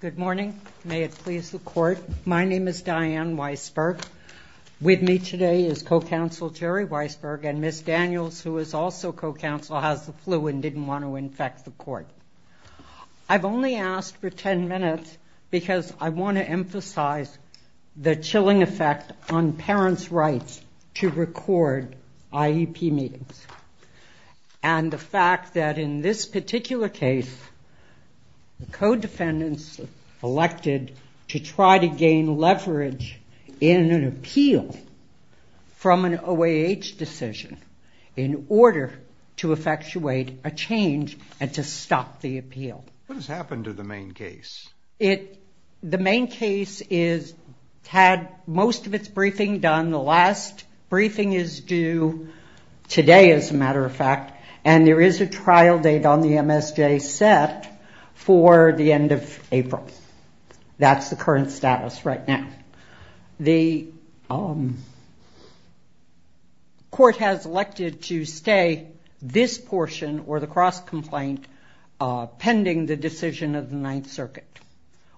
Good morning. May it please the court. My name is Diane Weisberg. With me today is co-counsel Jerry Weisberg and Ms. Daniels, who is also co-counsel, has the flu and didn't want to infect the court. I've only asked for 10 minutes because I want to emphasize the chilling effect on parents' rights to record IEP meetings and the fact that in this particular case the co-defendants elected to try to gain leverage in an appeal from an OAH decision in order to effectuate a change and to stop the appeal. What has happened to the main case? The main case is had most of its briefing done. The last briefing is due today, as a matter of fact, and there is a trial date on the MSJ set for the end of April. That's the current status right now. The court has elected to stay this portion or the cross-complaint pending the decision of the Ninth Circuit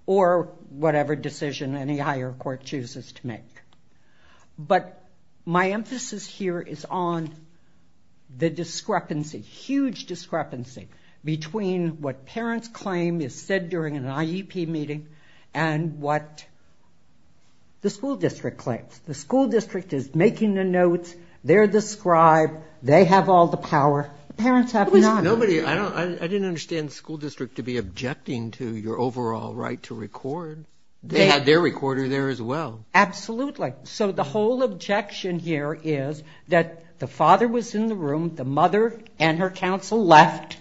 or whatever decision any higher court chooses to make. But my emphasis here is on the discrepancy, huge discrepancy, between what parents claim is said during an IEP meeting and what the school district claims. The school district is making the notes, they're the scribe, they have all the power, the parents have none. I didn't understand the school district to be objecting to your overall right to record. They had their recorder there as well. Absolutely. So the whole objection here is that the father was in the room, the mother and her counsel left,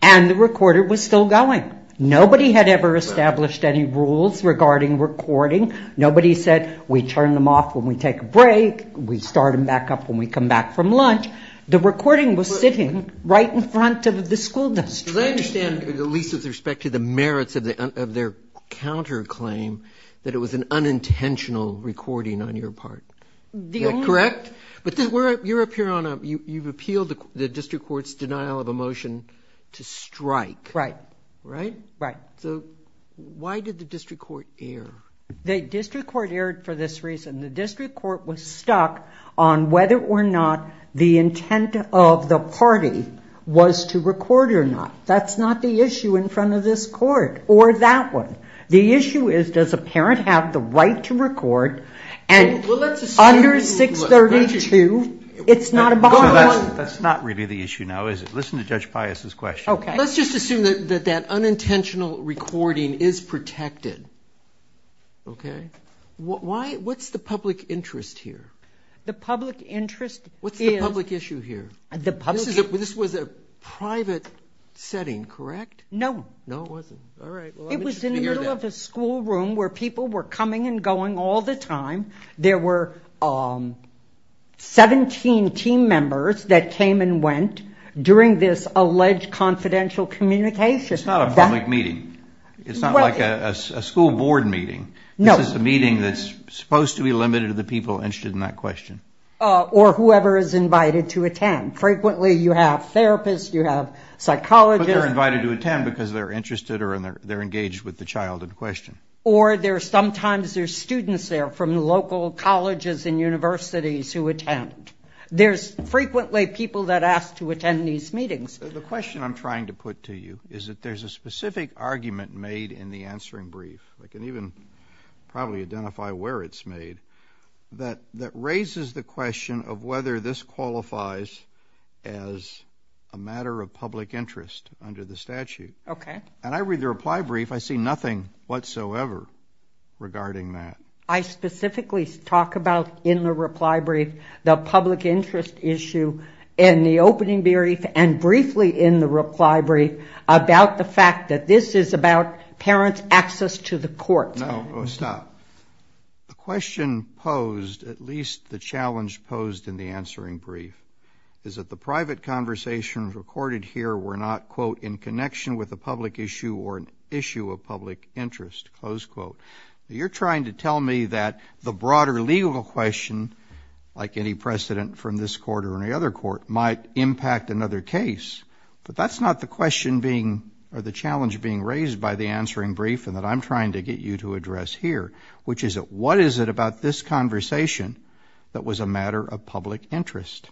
and the recorder was still going. Nobody had ever established any rules regarding recording. Nobody said we turn them off when we take a break, we start them back up when we come back from lunch. The recording was sitting right in front of the school district. Because I understand, at least with respect to the merits of their counterclaim, that it was an unintentional recording on your part. Correct? But you're up here on a, you've appealed the district court's denial of a motion to strike. Right. Right? Right. So why did the district court err? The district court erred for this was to record or not. That's not the issue in front of this court, or that one. The issue is does a parent have the right to record, and under 632, it's not a violation. So that's not really the issue now, is it? Listen to Judge Pius' question. Okay. Let's just assume that that unintentional recording is protected. Okay? Why, what's the public interest here? The public interest is... What's the public issue here? The public... This was a private setting, correct? No. No, it wasn't. All right. It was in the middle of a school room where people were coming and going all the time. There were 17 team members that came and went during this alleged confidential communication. It's not a public meeting. It's not like a school board meeting. No. This is a meeting that's supposed to be limited to the people interested in that question. Or whoever is invited to attend. Frequently, you have therapists, you have psychologists... But they're invited to attend because they're interested or they're engaged with the child in question. Or sometimes there's students there from local colleges and universities who attend. There's frequently people that ask to attend these meetings. The question I'm trying to put to you is that there's a specific argument made in the answering brief, I can even probably identify where it's made, that raises the question of whether this qualifies as a matter of public interest under the statute. Okay. And I read the reply brief, I see nothing whatsoever regarding that. I specifically talk about, in the reply brief, the public interest issue in the opening brief and briefly in the reply brief about the fact that this is about parents' access to the courts. No, stop. The question posed, at least the challenge posed in the answering brief, is that the private conversations recorded here were not, quote, in connection with a public issue or an issue of public interest, close quote. You're trying to tell me that the broader legal question, like any precedent from this court or any other court, might impact another case. But that's not the question being, or the challenge being raised by the answering brief and that I'm trying to get you to address here, which is that what is it about this conversation that was a matter of public interest?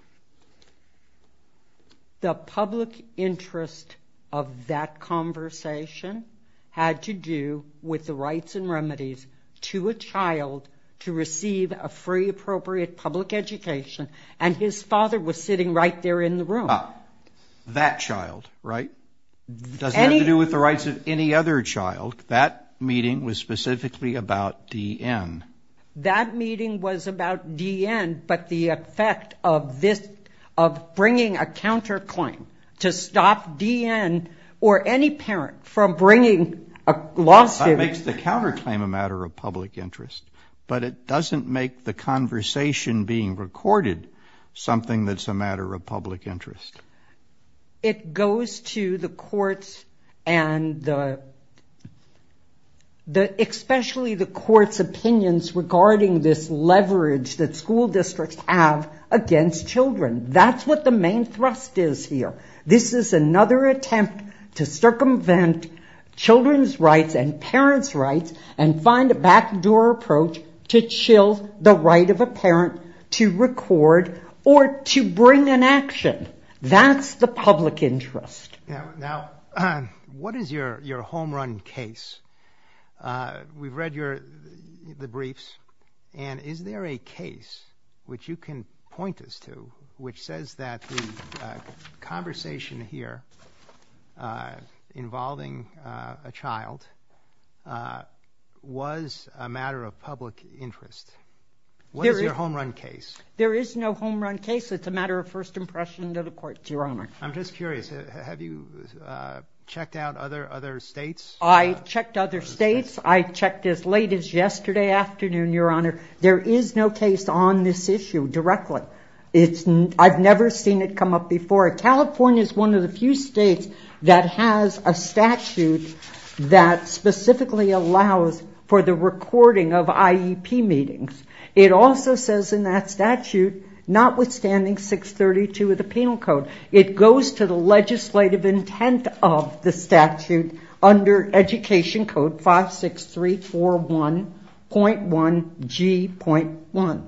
The public interest of that conversation had to do with the rights and remedies to a child to receive a free, appropriate public education, and his father was sitting right there in the room. That child, right? Doesn't have to do with the rights of any other child. That meeting was specifically about D.N. That meeting was about D.N., but the effect of this, of bringing a counterclaim to stop D.N. or any parent from bringing a lawsuit. That makes the counterclaim a matter of public interest, but it doesn't make the conversation being recorded something that's a matter of public interest. It goes to the courts and the, especially the court's opinions regarding this leverage that school districts have against children. That's what the main thrust is here. This is another attempt to circumvent children's rights and parents' rights and find a back the right of a parent to record or to bring an action. That's the public interest. Now, what is your home run case? We've read your, the briefs, and is there a case which you can point us to which says that the conversation here involving a child was a matter of public interest? What is your home run case? There is no home run case. It's a matter of first impression to the courts, Your Honor. I'm just curious. Have you checked out other states? I checked other states. I checked as late as yesterday afternoon, Your Honor. There is no case on this issue directly. It's, I've never seen it come up before. California's one of the few states that has a statute that specifically allows for the recording of IEP meetings. It also says in that statute, notwithstanding 632 of the Penal Code, it goes to the legislative intent of the statute under Education Code 56341.1G.1.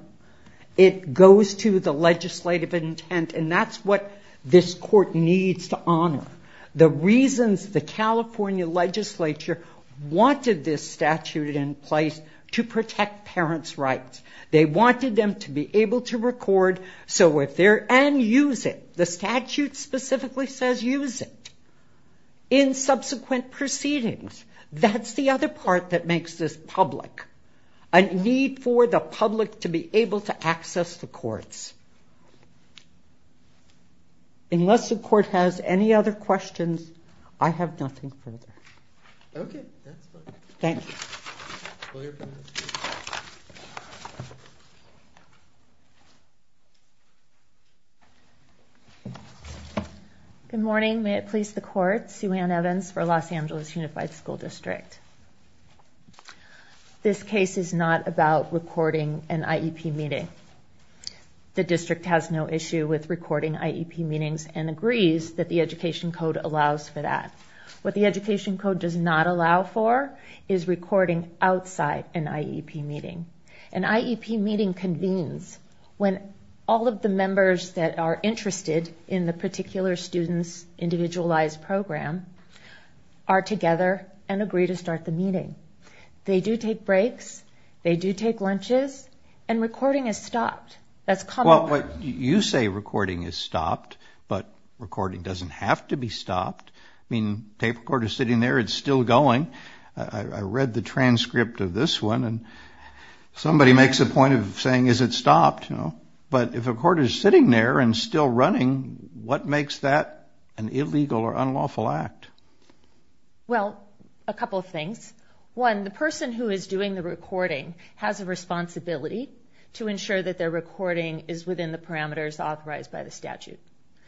It goes to the legislative intent and that's what this court needs to honor. The reasons the California legislature wanted this statute in place to protect parents' rights. They wanted them to be able to record so if they're, and use it. The statute specifically says use it in subsequent proceedings. That's the other part that makes this public. A need for the public to be able to access the courts. Unless the court has any other questions, I have nothing further. Okay. That's fine. Thank you. Good morning. May it please the court. Sue Ann Evans for Los Angeles Unified School District. This case is not about recording an IEP meeting. The definition of IEP is that the school district has no issue with recording IEP meetings and agrees that the Education Code allows for that. What the Education Code does not allow for is recording outside an IEP meeting. An IEP meeting convenes when all of the members that are interested in the particular student's individualized program are together and agree to start the meeting. They do take breaks, they do take lunches, and recording is stopped. That's common. Well, you say recording is stopped, but recording doesn't have to be stopped. I mean, tape recorder's sitting there, it's still going. I read the transcript of this one and somebody makes a point of saying, is it stopped? But if a recorder's sitting there and still running, what makes that an illegal or unlawful act? Well, a couple of things. One, the person who is doing the recording has a responsibility to ensure that their recording is within the parameters authorized by the statute.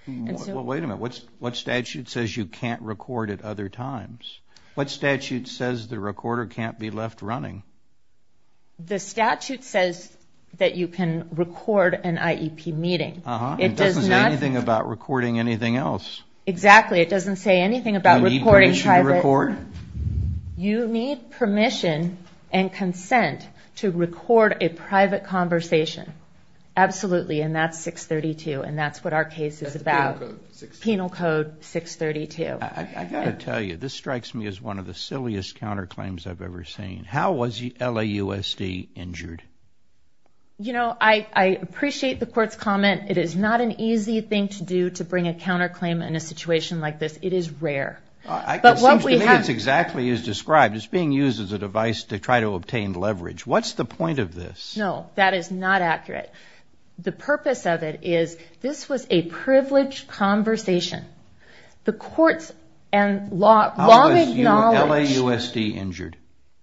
Wait a minute. What statute says you can't record at other times? What statute says the recorder can't be left running? The statute says that you can record an IEP meeting. It doesn't say anything about recording anything else. Exactly. It doesn't say anything about recording private. You need permission to record? You need permission and consent to record a private conversation. Absolutely. And that's 632, and that's what our case is about. Penal Code 632. I've got to tell you, this strikes me as one of the silliest counterclaims I've ever seen. How was LAUSD injured? You know, I appreciate the court's comment. It is not an easy thing to do to bring a counterclaim in a situation like this. It is rare. It seems to me it's exactly as described. It's being used as a device to try to obtain leverage. What's the point of this? No, that is not accurate. The purpose of it is this was a privileged conversation. The courts and law make knowledge. How was LAUSD injured?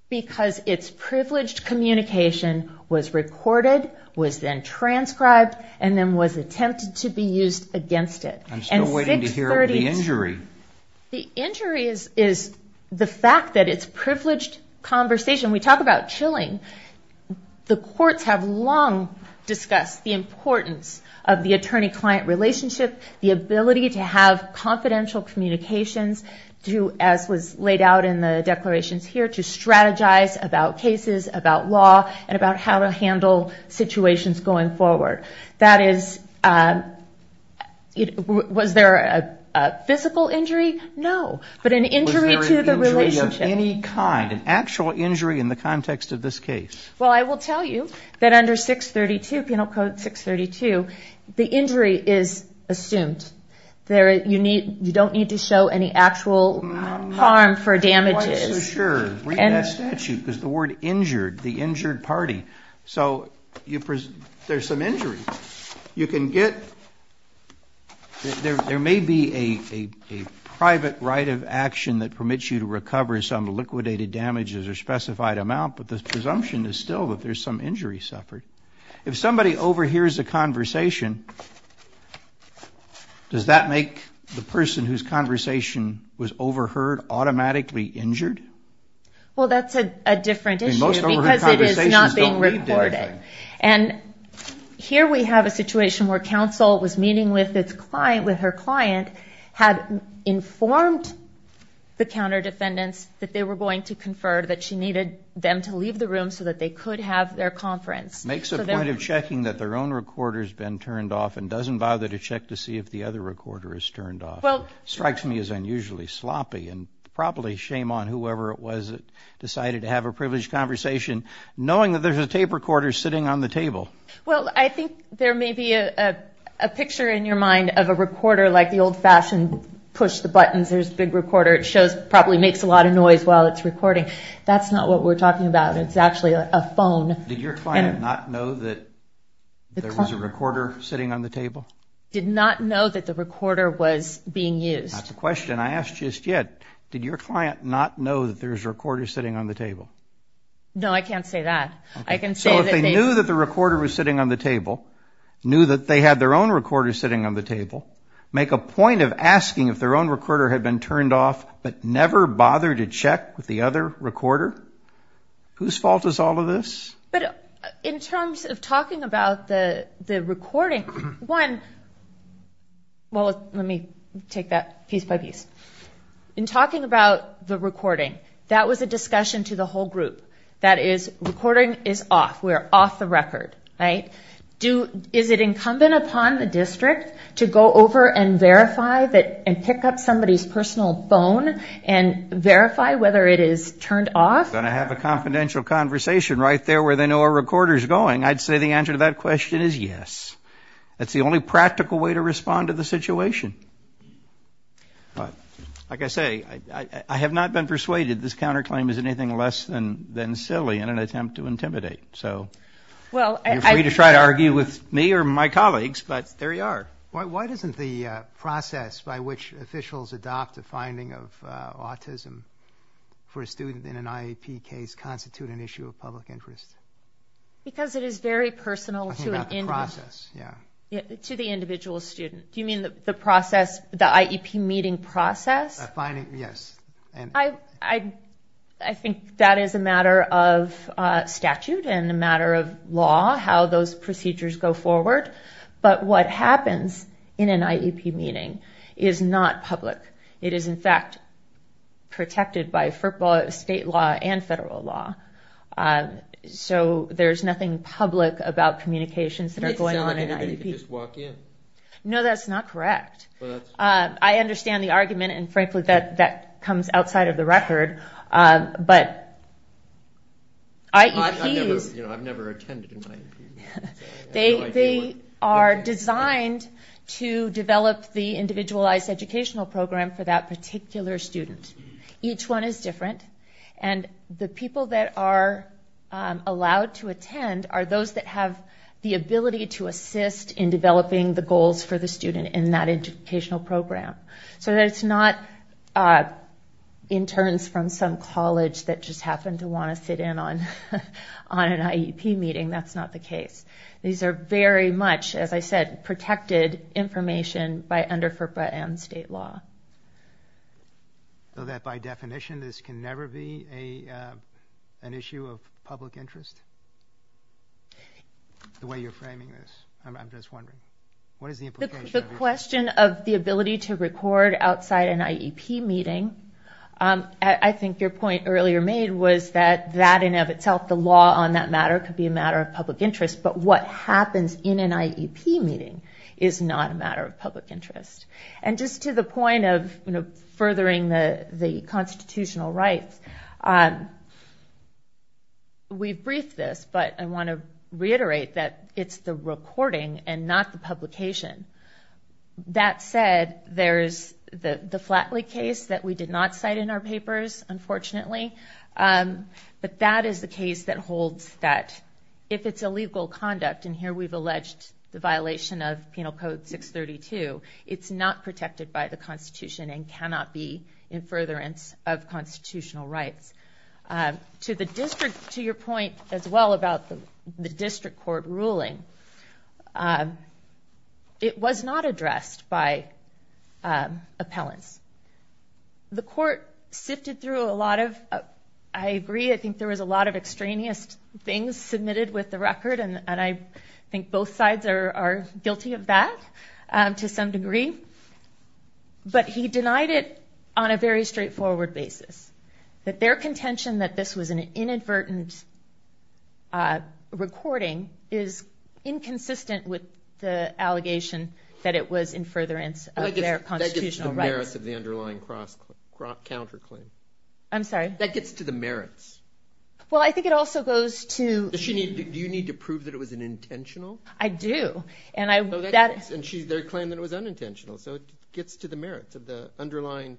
Because it's privileged communication was recorded, was then transcribed, and then was attempted to be used against it. I'm still waiting to hear about the injury. The injury is the fact that it's privileged conversation. We talk about chilling. The courts have long discussed the importance of the attorney-client relationship, the ability to have confidential communications, as was laid out in the declarations here, to strategize about cases, about law, and about how to handle situations going forward. Was there a physical injury? No, but an injury to the relationship. Was there an injury of any kind, an actual injury in the context of this case? Well, I will tell you that under 632, Penal Code 632, the injury is assumed. You don't need to show any actual harm for damages. I'm not quite so sure. Read that statute, because the word injured, the injured party, so there's some injury. There may be a private right of action that permits you to recover some liquidated damages or specified amount, but the presumption is still that there's some injury suffered. If somebody overhears a conversation, does that make the person whose conversation was overheard automatically injured? Well, that's a different issue, because it is not being recorded. And here we have a situation where counsel was meeting with her client, had informed the counter-defendants that they were going to confer, that she needed them to leave the room so that they could have their conference. Makes a point of checking that their own recorder's been turned off and doesn't bother to check to see if the other recorder is turned off. Strikes me as unusually sloppy, and probably shame on whoever it was that decided to have a privileged conversation knowing that there's a tape recorder sitting on the table. Well, I think there may be a picture in your mind of a recorder like the old-fashioned push-the-buttons. There's a big recorder. It probably makes a lot of noise while it's recording. That's not what we're talking about. It's actually a phone. Did your client not know that there was a recorder sitting on the table? Did not know that the recorder was being used. That's the question I asked just yet. Did your client not know that there's a recorder sitting on the table? No, I can't say that. I can say that they... So if they knew that the recorder was sitting on the table, knew that they had their own asking if their own recorder had been turned off, but never bothered to check with the other recorder, whose fault is all of this? In terms of talking about the recording, one... Well, let me take that piece by piece. In talking about the recording, that was a discussion to the whole group. That is, recording is off. We're off the record, right? Is it incumbent upon the district to go over and verify that and pick up somebody's personal phone and verify whether it is turned off? If you're going to have a confidential conversation right there where they know a recorder is going, I'd say the answer to that question is yes. That's the only practical way to respond to the situation. But like I say, I have not been persuaded this counterclaim is anything less than silly in an attempt to intimidate. So you're free to try to argue with me or my colleagues, but there you are. Why doesn't the process by which officials adopt a finding of autism for a student in an IEP case constitute an issue of public interest? Because it is very personal to an individual. I'm talking about the process, yeah. To the individual student. Do you mean the process, the IEP meeting process? The finding, yes. I think that is a matter of statute and a matter of law, how those procedures go forward. But what happens in an IEP meeting is not public. It is in fact protected by FERPA state law and federal law. So there's nothing public about communications that are going on in It makes it sound like anybody can just walk in. No, that's not correct. I understand the argument, and frankly that comes outside of the record, but IEPs... are designed to develop the individualized educational program for that particular student. Each one is different, and the people that are allowed to attend are those that have the ability to assist in developing the goals for the student in that educational program. So it's not interns from some college that just happen to want to sit in on an IEP meeting. That's not the case. These are very much, as I said, protected information by under FERPA and state law. That by definition this can never be an issue of public interest? The way you're framing this, I'm just wondering. What is the implication of this? The question of the ability to record outside an IEP meeting, I think your point earlier made was that in and of itself the law on that matter could be a matter of public interest, but what happens in an IEP meeting is not a matter of public interest. And just to the point of furthering the constitutional rights, we've briefed this, but I want to reiterate that it's the recording and not the publication. That said, there's the Flatley case that we did not cite in our papers, unfortunately, but that is the case that holds that if it's illegal conduct, and here we've alleged the violation of Penal Code 632, it's not protected by the Constitution and cannot be in furtherance of constitutional rights. To the district, to your point as well about the district court ruling, it was not addressed by appellants. The court sifted through a lot of, I agree, I think there was a lot of extraneous things submitted with the record, and I think both sides are guilty of that to some degree, but he denied it on a very straightforward basis. That their contention that this was an inadvertent recording is inconsistent with the allegation that it was in furtherance of their constitutional rights. That gets to the merits of the underlying counterclaim. I'm sorry? That gets to the merits. Well, I think it also goes to... Do you need to prove that it was an intentional? I do. And she claimed that it was unintentional, so it gets to the merits of the underlying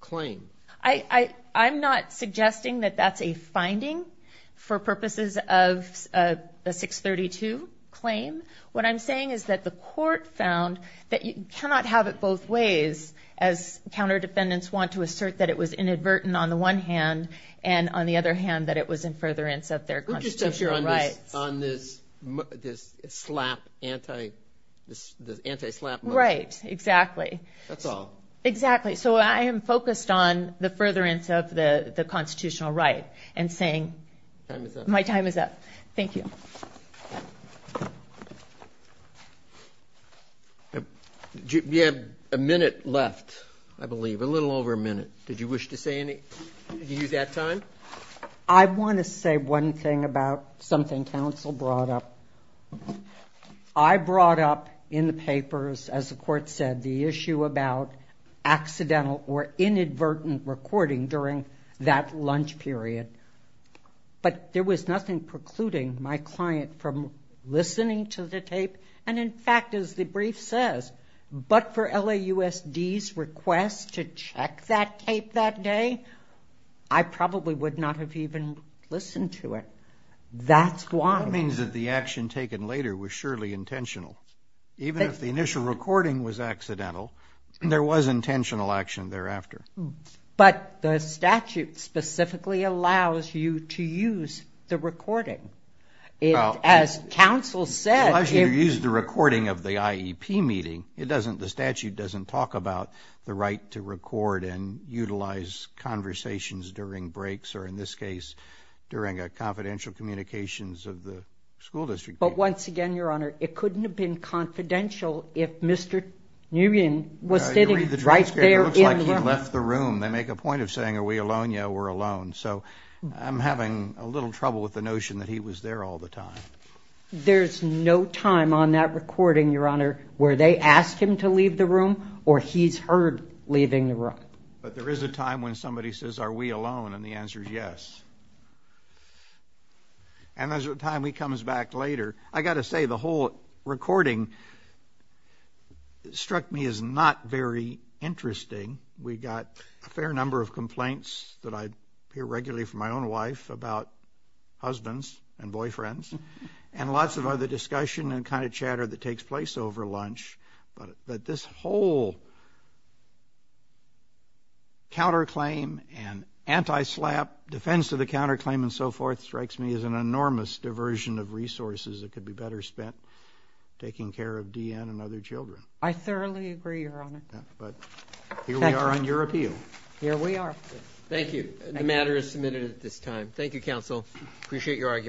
claim. I'm not suggesting that that's a finding for purposes of the 632 claim. What I'm saying is that the court found that you cannot have it both ways, as counter defendants want to assert that it was inadvertent on the one hand, and on the other hand, that it was in furtherance of their constitutional rights. Would you step on this slap, anti-slap motion? Right, exactly. That's all. Exactly. So I am focused on the furtherance of the constitutional right, and saying... Time is up. My time is up. Thank you. You have a minute left, I believe. A little over a minute. Did you wish to say anything? Did you use that time? I want to say one thing about something counsel brought up. I brought up in the papers, as the court said, the issue about accidental or inadvertent recording during that lunch period. But there was nothing precluding my client from listening to the tape. And in fact, as the brief says, but for LAUSD's request to check that tape that day, I probably would not have even listened to it. That's why. That means that the action taken later was surely intentional. Even if the initial recording was accidental, there was intentional action thereafter. But the statute specifically allows you to use the recording. As counsel said... Unless you use the recording of the IEP meeting, the statute doesn't talk about the right to record and utilize conversations during breaks, or in this case, during a confidential communications of the school district. But once again, Your Honor, it couldn't have been confidential if Mr. Nguyen was sitting right there in the room. It looks like he left the room. They make a point of saying, are we alone? Yeah, we're alone. So I'm having a little trouble with the notion that he was there all the time. There's no time on that recording, Your Honor, where they ask him to leave the room or he's heard leaving the room. But there is a time when somebody says, are we alone? And the answer is yes. And there's a time he comes back later. I've got to say, the whole recording struck me as not very interesting. We got a fair number of complaints that I hear regularly from my own wife about husbands and boyfriends and lots of other discussion and kind of chatter that takes place over lunch. But this whole counterclaim and anti-SLAPP, defense of the counterclaim and so forth, strikes me as an enormous diversion of resources that could be better spent taking care of D.N. and other children. I thoroughly agree, Your Honor. But here we are on your appeal. Here we are. Thank you. The matter is submitted at this time. Thank you, Counsel. Appreciate your